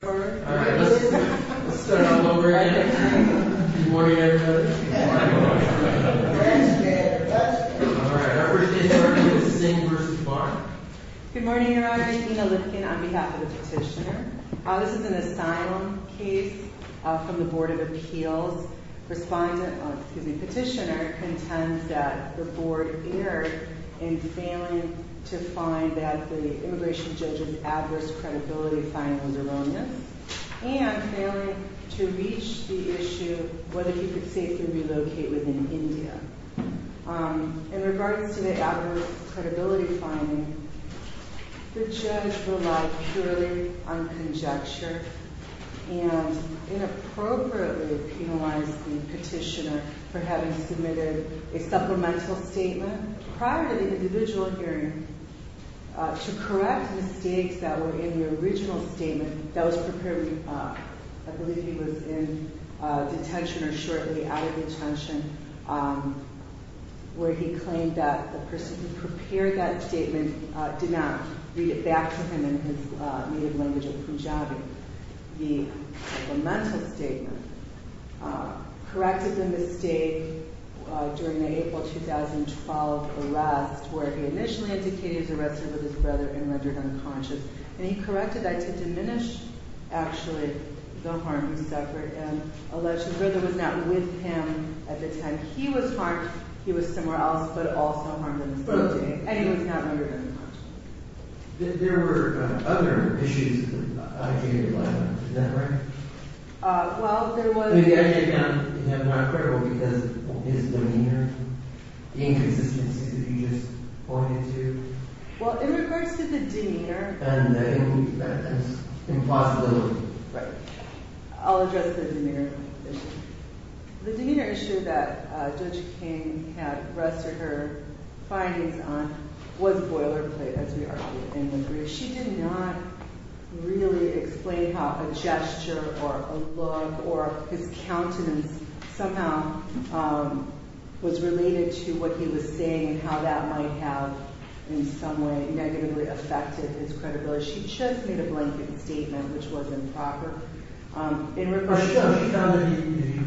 Good morning Your Honor, Gina Lipkin on behalf of the Petitioner, this is an asylum case from the Board of Appeals. Petitioner contends that the Board erred in failing to find that the immigration judge's adverse credibility finding was erroneous and failing to reach the issue of whether he could safely relocate within India. In regards to the adverse credibility finding, the judge relied purely on conjecture and inappropriately penalized the Petitioner for having submitted a supplemental statement prior to the individual hearing to correct mistakes that were in the original statement that was prepared, I believe he was in detention or shortly out of detention, where he claimed that the person who prepared that statement did not read it back to him in his native language of Punjabi. The supplemental statement corrected the mistake during the April 2012 arrest where he initially indicated he was arrested with his brother and rendered unconscious and he corrected that to diminish actually the harm he suffered and alleged his brother was not with him at the time he was harmed, he was somewhere else but also harmed in the same day and he was not rendered unconscious. There were other issues that the IG relied on, is that right? Well, there was... The IG found him not credible because of his demeanor, the inconsistency that you just pointed to. Well, in regards to the demeanor... And the impossibility. Right. I'll address the demeanor issue. The demeanor issue that Judge King had rested her findings on was boilerplate as we argue in the brief. She did not really explain how a gesture or a look or his countenance somehow was related to what he was saying and how that might have in some way negatively affected his credibility. She just made a blanket statement which was improper. But she found that he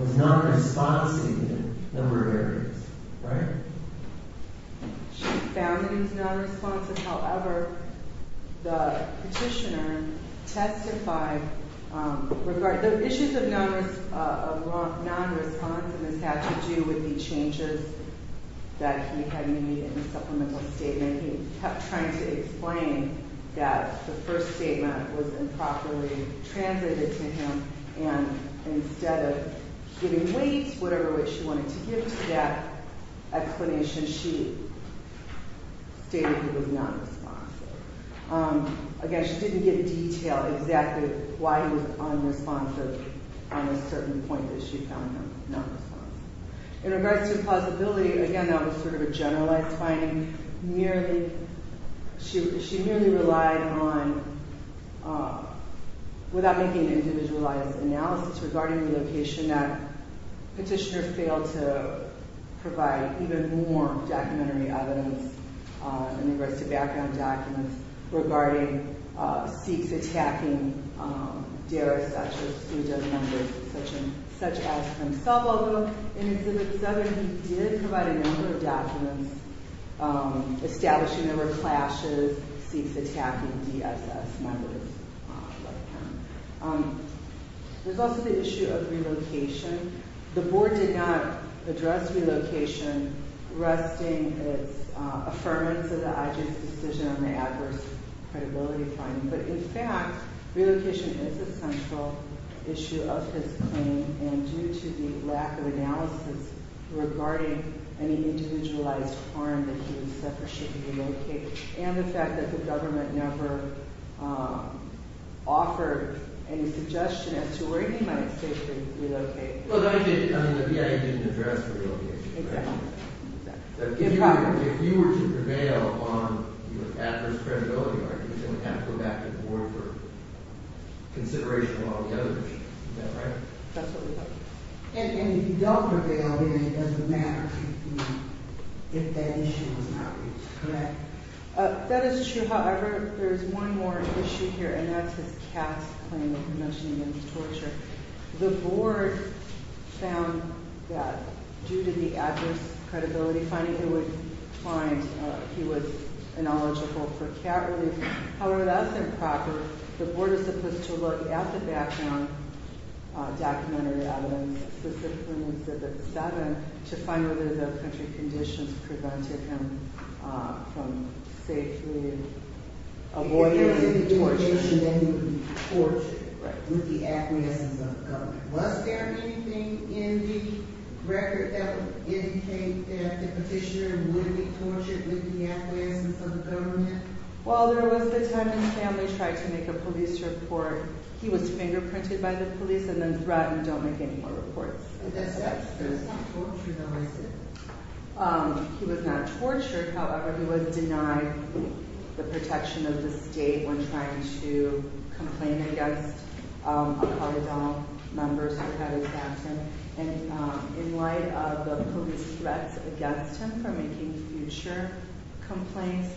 was non-responsive in a number of areas, right? She found that he was non-responsive, however, the petitioner testified regarding... The issues of non-responsiveness had to do with the changes that he had made in the supplemental statement. He kept trying to explain that the first statement was improperly translated to him and instead of giving weight, whatever weight she wanted to give to that explanation, she stated he was non-responsive. Again, she didn't give detail exactly why he was non-responsive on a certain point that she found him non-responsive. In regards to plausibility, again, that was sort of a generalized finding. She merely relied on, without making an individualized analysis regarding the location, that petitioner failed to provide even more documentary evidence in regards to background documents regarding attacking D.R.S.S. members such as himself, although in exhibit 7 he did provide a number of documents establishing there were clashes, seeks attacking D.S.S. members like him. There's also the issue of relocation. The board did not address relocation resting its affirmance of the IG's decision on the adverse credibility finding, but in fact, relocation is a central issue of his claim and due to the lack of analysis regarding any individualized harm that he would suffer should he relocate and the fact that the government never offered any suggestion as to where he might safely relocate. The BIA didn't address relocation, right? Exactly. If you were to prevail on adverse credibility arguments, you would have to go back to the board for consideration of all the other issues. Is that right? That's what we thought. And if you don't prevail, then it doesn't matter if that issue was not reached. Correct. That is true. However, there is one more issue here and that's his cast claim of convention against torture. The board found that due to the adverse credibility finding, he was ineligible for cat release. However, that's improper. The board is supposed to look at the background documentary evidence, specifically in exhibit seven, to find whether the country conditions prevented him from safely avoiding torture. Was there anything in the record that would indicate that the petitioner would be tortured with the acquiescence of the government? Well, there was the time his family tried to make a police report. He was fingerprinted by the police and then threatened, don't make any more reports. But that's not torture, though, is it? He was not tortured. However, he was denied the protection of the state when trying to complain against a cardinal member who had his accent. And in light of the police threats against him for making future complaints,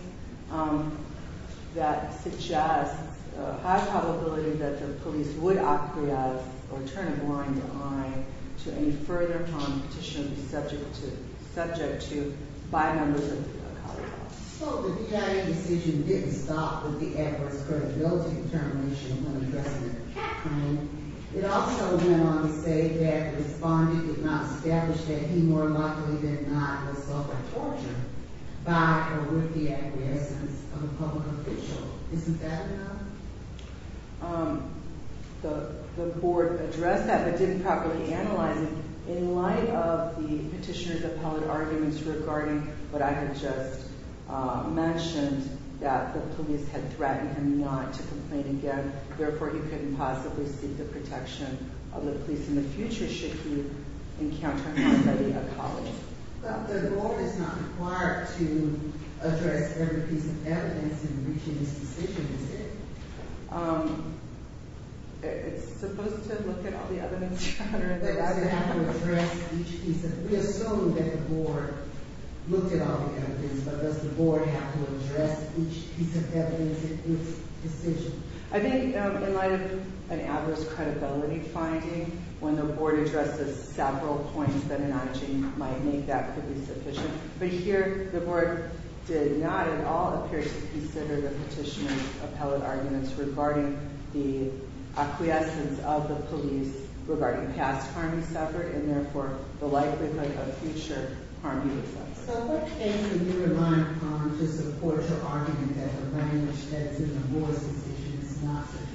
that suggests a high probability that the police would acquiesce or turn a blind eye to any further competition subject to by members of the college board. So the BIA decision didn't stop with the adverse credibility determination when addressing the cat claim. It also went on to say that the respondent did not establish that he more than likely did not suffer torture by or with the acquiescence of a public official. Isn't that enough? The board addressed that but didn't properly analyze it. In light of the petitioner's appellate arguments regarding what I had just mentioned, that the police had threatened him not to complain again. Therefore, he couldn't possibly seek the protection of the police in the future should he encounter a study of college. But the goal is not required to address every piece of evidence in reaching this decision, is it? It's supposed to look at all the evidence. Does it have to address each piece of evidence? We assume that the board looked at all the evidence, but does the board have to address each piece of evidence in its decision? I think in light of an adverse credibility finding, when the board addresses several points, then an IG might make that pretty sufficient. But here, the board did not at all appear to consider the petitioner's appellate arguments regarding the acquiescence of the police, regarding past harm he suffered, and therefore the likelihood of future harm he would suffer. So what came to your mind to support your argument that the language that's in the board's decision is not sufficient?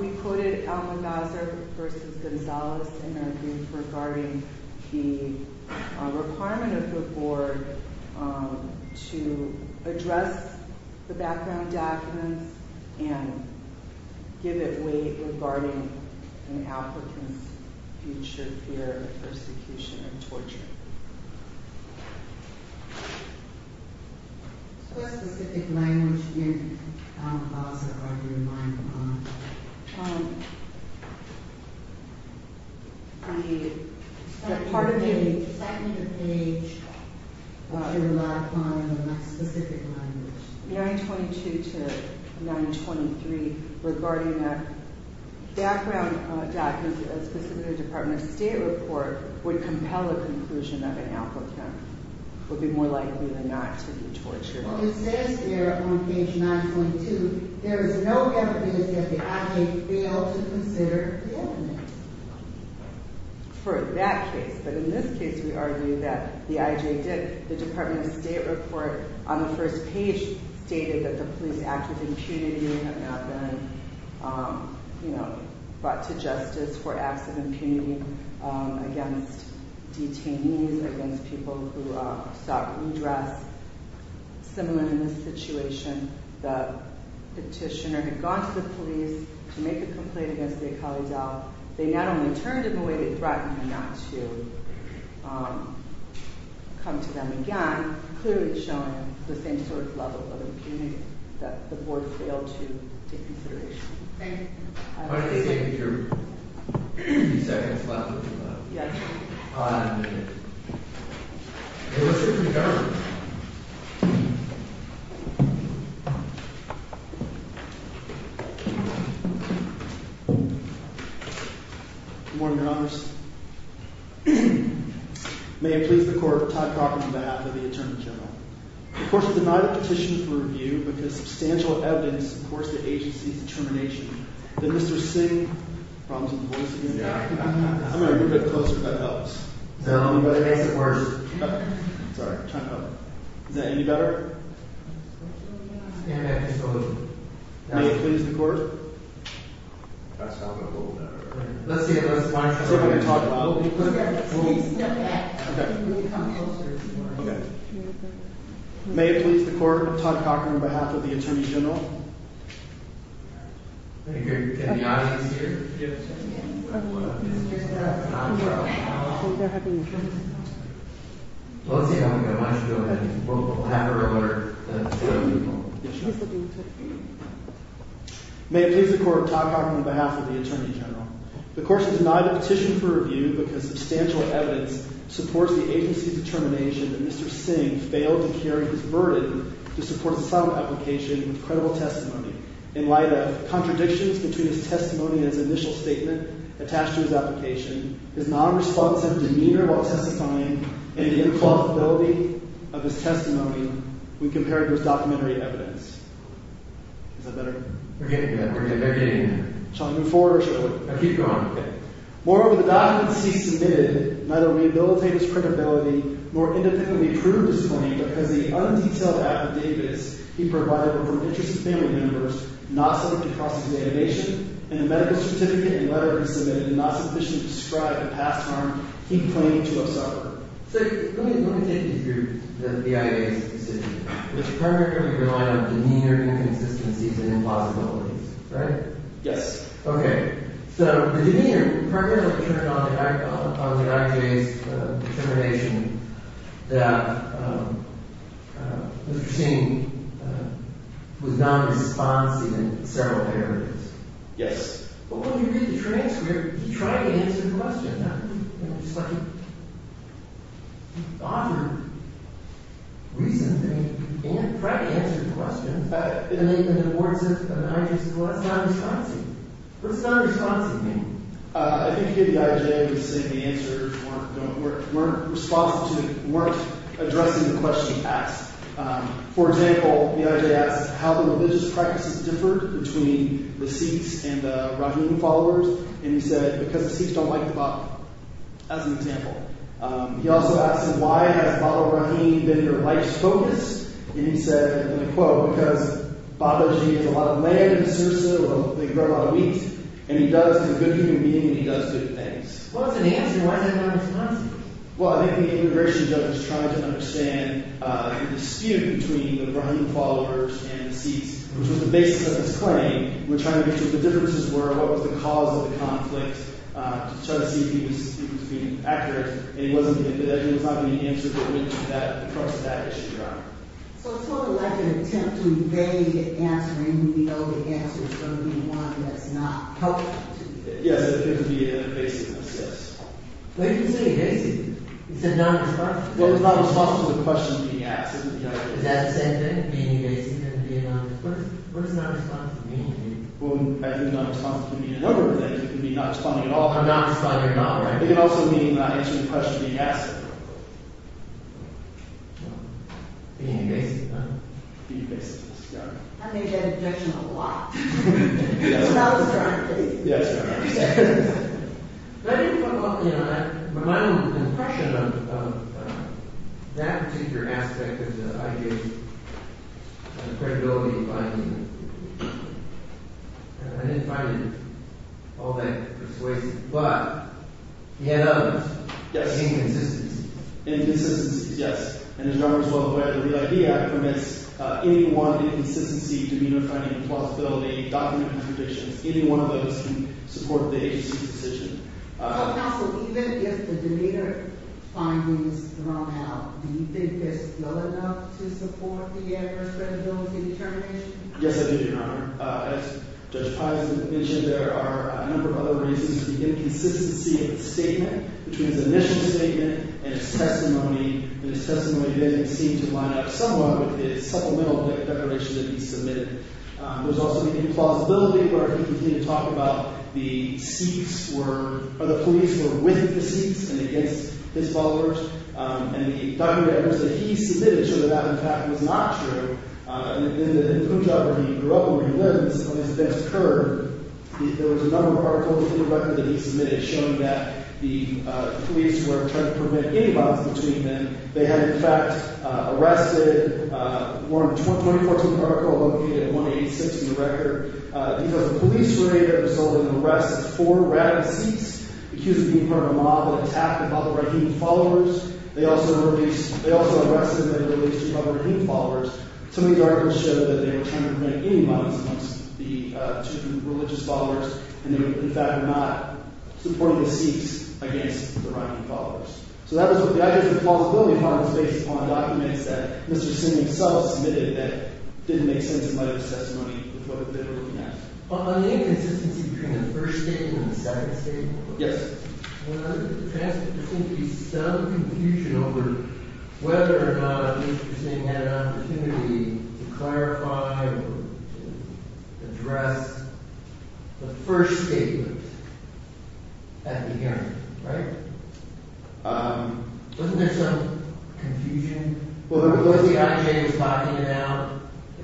We quoted Elman Bowser v. Gonzalez in their brief regarding the requirement of the board to address the background documents and give it weight regarding an applicant's future What specific language in Elman Bowser are you relying upon? Part of the second page, you rely upon a specific language. 922 to 923 regarding a background document, a specific Department of State report, would compel a conclusion of an applicant would be more likely than not to be tortured. It says here on page 922, there is no evidence that the IJ failed to consider the evidence. For that case, but in this case we argue that the IJ did. The Department of State report on the first page stated that the police act of impunity have not been brought to justice for acts of impunity against detainees, against people who sought redress. Similar in this situation, the petitioner had gone to the police to make a complaint against the IKALIDAL. They not only turned him away, they threatened him not to come to them again, clearly showing the same sort of level of impunity that the board failed to take into consideration. Thank you. Thank you for your few seconds left. Yes. Five minutes. Mr. Attorney General. Good morning, Your Honor. May it please the Court, Todd Cochran on behalf of the Attorney General. The court has denied a petition for review because substantial evidence supports the agency's determination that Mr. Singh... Problems with the voice again. I'm going to move it closer if that helps. No, it makes it worse. Sorry. Is that any better? May it please the Court. That's probably a little better. Let's see if Mrs. Weintraub can talk about it. Okay. Okay. May it please the Court, Todd Cochran on behalf of the Attorney General. Can the audience hear? Yes. Well, let's see if I can get Mrs. Weintraub to go ahead and have her order the petition. Yes, Your Honor. May it please the Court, Todd Cochran on behalf of the Attorney General. The court has denied a petition for review because substantial evidence supports the agency's determination that Mr. Singh failed to carry his burden to support some application with credible testimony. In light of contradictions between his testimony and his initial statement attached to his application, his non-responsive demeanor while testifying, and the implausibility of his Is that better? We're getting there. We're getting there. Shall I move forward or shall I wait? Keep going. Okay. Moreover, the documents he submitted neither rehabilitate his credibility nor independently prove his claim because the undetailed affidavits he provided were of interest to family members not subject to cross-examination, and the medical certificate and letter he submitted did not sufficiently describe the past harm he claimed to have suffered. So, let me take you through the BIA's decision. Mr. Kramer, you're relying on demeanor, inconsistencies, and implausibilities, right? Yes. So, the demeanor. Mr. Kramer turned on the IJ's determination that Mr. Singh was non-responsive in several areas. Yes. Well, when you read the transcript, he tried to answer the question. He offered reason to try to answer the question, and then the IJ said, well, that's non-responsive. What's non-responsive mean? I think you get the IJ saying the answers weren't addressing the questions asked. For example, the IJ asked how the religious practices differed between the Sikhs and as an example. He also asked why has Baha'u'llah Rahim been your life's focus, and he said, and I quote, because Baha'u'llah Rahim has a lot of land in Sirsa where they grow a lot of wheat, and he does good human beings, and he does good things. Well, that's an answer. Why is that non-responsive? Well, I think the immigration judge was trying to understand the dispute between the Baha'u'llah Rahim followers and the Sikhs, which was the basis of his claim. The differences were what was the cause of the conflict, to try to see if he was being accurate, and he wasn't. He was not going to answer for the crux of that issue, Your Honor. So it's sort of like an attempt to evade answering when we know the answer is going to be one that's not helpful. Yes. It would be a basicness, yes. Well, you didn't say basic. You said non-responsive. Well, it's not responsive to the question being asked. Is that the same thing, being basic and being non-responsive? What does non-responsive mean to you? Well, I think non-responsive can mean a number of things. It can mean not responding at all. I'm not responding at all, right. It can also mean not answering the question being asked. Being basic, huh? Being basic, yes, Your Honor. I think he had an objection a lot. Yes, Your Honor. That was the right thing. Yes, Your Honor. I think from my own impression of that particular aspect of the idea of credibility and finding, I didn't find it all that persuasive. But he had others. Yes. Inconsistency. Inconsistency, yes. And there's a number as well where the Real Idea permits any one inconsistency to be in support of the agency's decision. Counsel, even if the denier findings thrown out, do you think they're still enough to support the adverse credibility determination? Yes, I do, Your Honor. As Judge Paisan mentioned, there are a number of other reasons. The inconsistency of the statement, between his initial statement and his testimony, and his testimony didn't seem to line up somewhat with his supplemental declaration that he submitted. There's also the implausibility where he continued to talk about the police were with the Sikhs and against his followers. And the document that he submitted showed that that, in fact, was not true. In Punjab, where he grew up and where he lives, when these events occurred, there was a number of articles in the record that he submitted showing that the police were trying to prevent any violence between men. They had, in fact, arrested more than 24 people in the article located at 186 in the record. He was a police raider who was holding an arrest of four rabid Sikhs, accused of being part of a monopoly attack about the Rahim followers. They also arrested and released two other Rahim followers. Some of these articles showed that they were trying to prevent any violence amongst the two religious followers. And they were, in fact, not supporting the Sikhs against the Rahim followers. So that was what the Identity and Implausibility Part was based upon, documents that Mr. Singh himself submitted that didn't make sense in light of his testimony with what they were looking at. On the inconsistency between the first statement and the second statement, there seems to be some confusion over whether or not Mr. Singh had an opportunity to clarify or to address the first statement at the hearing. Right? Wasn't there some confusion? Was the IJ spotting it out?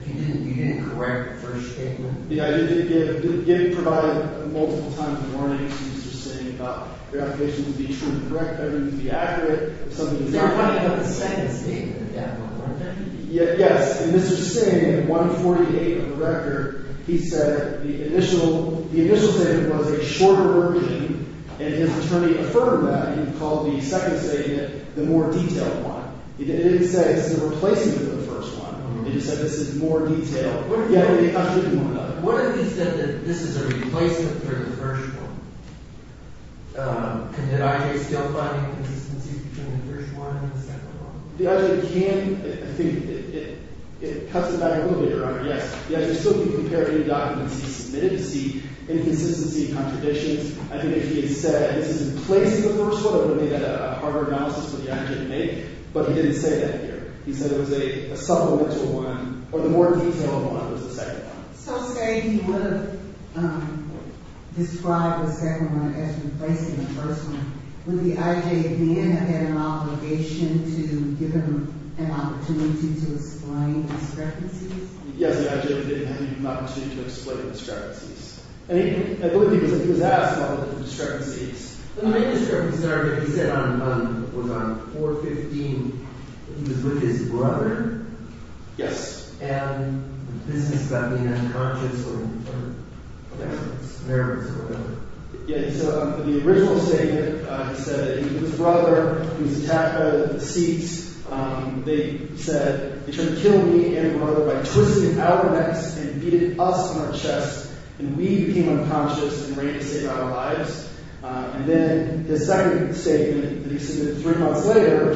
You didn't correct the first statement? The IJ did provide multiple times warnings to Mr. Singh about the application would be true and correct, everything would be accurate. It's not funny about the second statement. Yes, and Mr. Singh, in 148 of the record, he said the initial statement was a shorter version and his attorney affirmed that and called the second statement the more detailed one. He didn't say this is a replacement for the first one. He just said this is more detailed. What if he said that this is a replacement for the first one? Can the IJ still find inconsistency between the first one and the second one? The IJ can. I think it cuts it back a little bit, Your Honor. Yes, the IJ can still compare any documents he submitted to see inconsistency and contradictions. I think if he had said this is replacing the first one, it would have made a harder analysis for the IJ to make, but he didn't say that here. He said it was a supplement to one, or the more detailed one was the second one. So say he would have described the second one as replacing the first one, would the IJ then have had an obligation to give him an opportunity to explain discrepancies? Yes, the IJ would have had an opportunity to explain discrepancies. I believe he was asked about the discrepancies. The main discrepancy, Your Honor, he said was on 415 that he was with his brother. Yes. And this is about being unconscious or in front of Americans or whatever. Yes, so in the original statement, he said he was with his brother. He was attacked out of the seats. They said they tried to kill me and my brother by twisting our necks and beating us on our chests, and we became unconscious and ran to save our lives. And then his second statement that he submitted three months later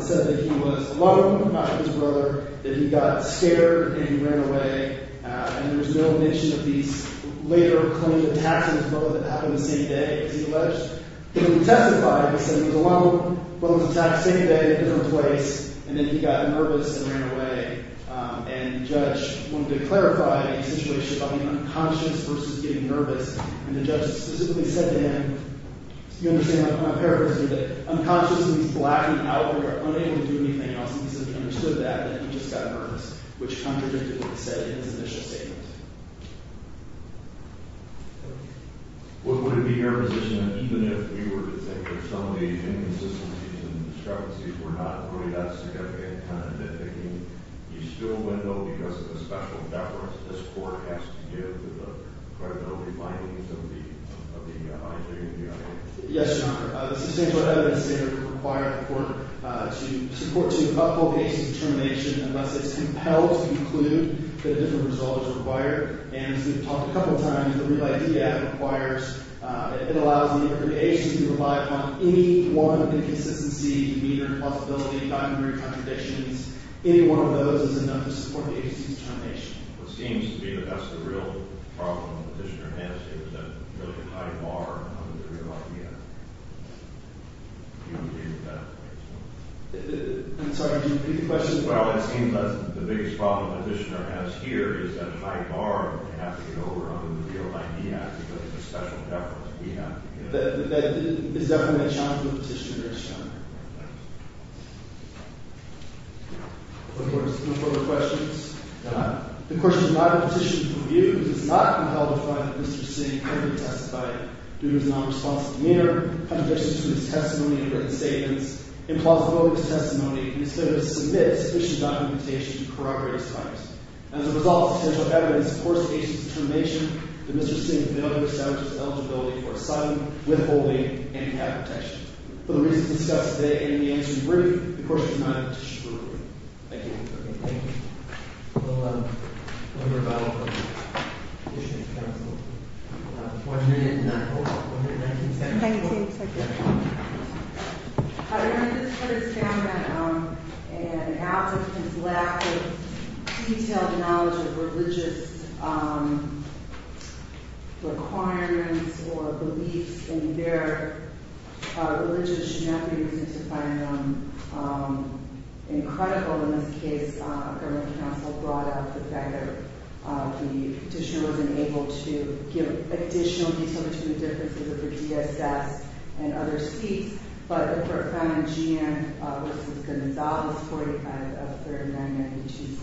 said that he was alone with his brother, that he got scared and he ran away, and there was no mention of these later claims of attacks on his brother that happened the same day, as he alleged. He testified, he said his brother was attacked the same day, twice, and then he got nervous and ran away. And the judge wanted to clarify the situation about being unconscious versus getting nervous, and the judge specifically said to him, you understand my paraphrasing, that unconscious means black and out there, unable to do anything else, and he simply understood that and he just got nervous, which contradicted what he said in his initial statement. Thank you. Would it be your position that even if you were to think that some of these inconsistencies and discrepancies were not really that significant and significant, you still would know because of the special deference that this court has to give to the creditorial findings of the injunctions? Yes, Your Honor. The substantial evidence stated that it would require the court to support two uphold cases of termination unless it's compelled to conclude that a different result is required, and as we've talked a couple of times, the Real Idea Act requires that it allows the interpretation to rely upon any one inconsistency, be it a possibility of documentary contradictions, any one of those is enough to support the agency's termination. It seems to me that that's the real problem the petitioner has, that there's a really tight bar on the Real Idea. Do you agree with that? I'm sorry, do you repeat the question? Well, it seems that the biggest problem the petitioner has here is that a tight bar has to get over on the Real Idea because of the special deference we have to give. That is definitely a challenge to the petitioner, Your Honor. Thank you. No further questions? None. The question is, my petition for review does not compel to find that Mr. Singh could be testified due to his nonresponsive demeanor, contradictions to his testimony and written statements, implausibility of his testimony, instead of to submit sufficient documentation to corroborate his crimes. As a result of essential evidence to support the agency's termination, the Mr. Singh failed to establish his eligibility for asylum, withholding, and cap protection. For the reasons discussed today and in the answer to the brief, the question is not a petition for review. Thank you. Okay, thank you. We'll hear about the petition in council. One minute and 19 seconds. 19 seconds. Your Honor, this put a stammer on an applicant's lack of detailed knowledge of religious requirements or beliefs in their religious genealogy, which is to find them incredible in this case. The government counsel brought up the fact that the petitioner wasn't able to give additional detail between the differences of the DSS and other seats, but the court found in G.M. versus Gonzales 45 of 39, which is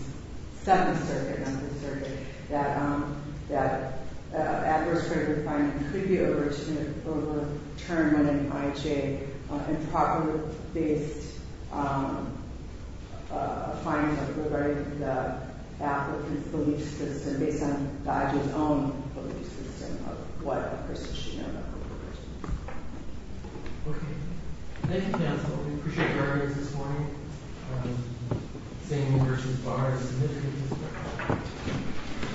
second circuit, number circuit, that adverse critical finding could be overturned in IJ on improperly based findings of the applicant's belief system based on the IJ's own belief system of what a person should know about religious beliefs. Okay. Thank you, counsel. We appreciate your evidence this morning. Saini versus Barr is a significant disparity.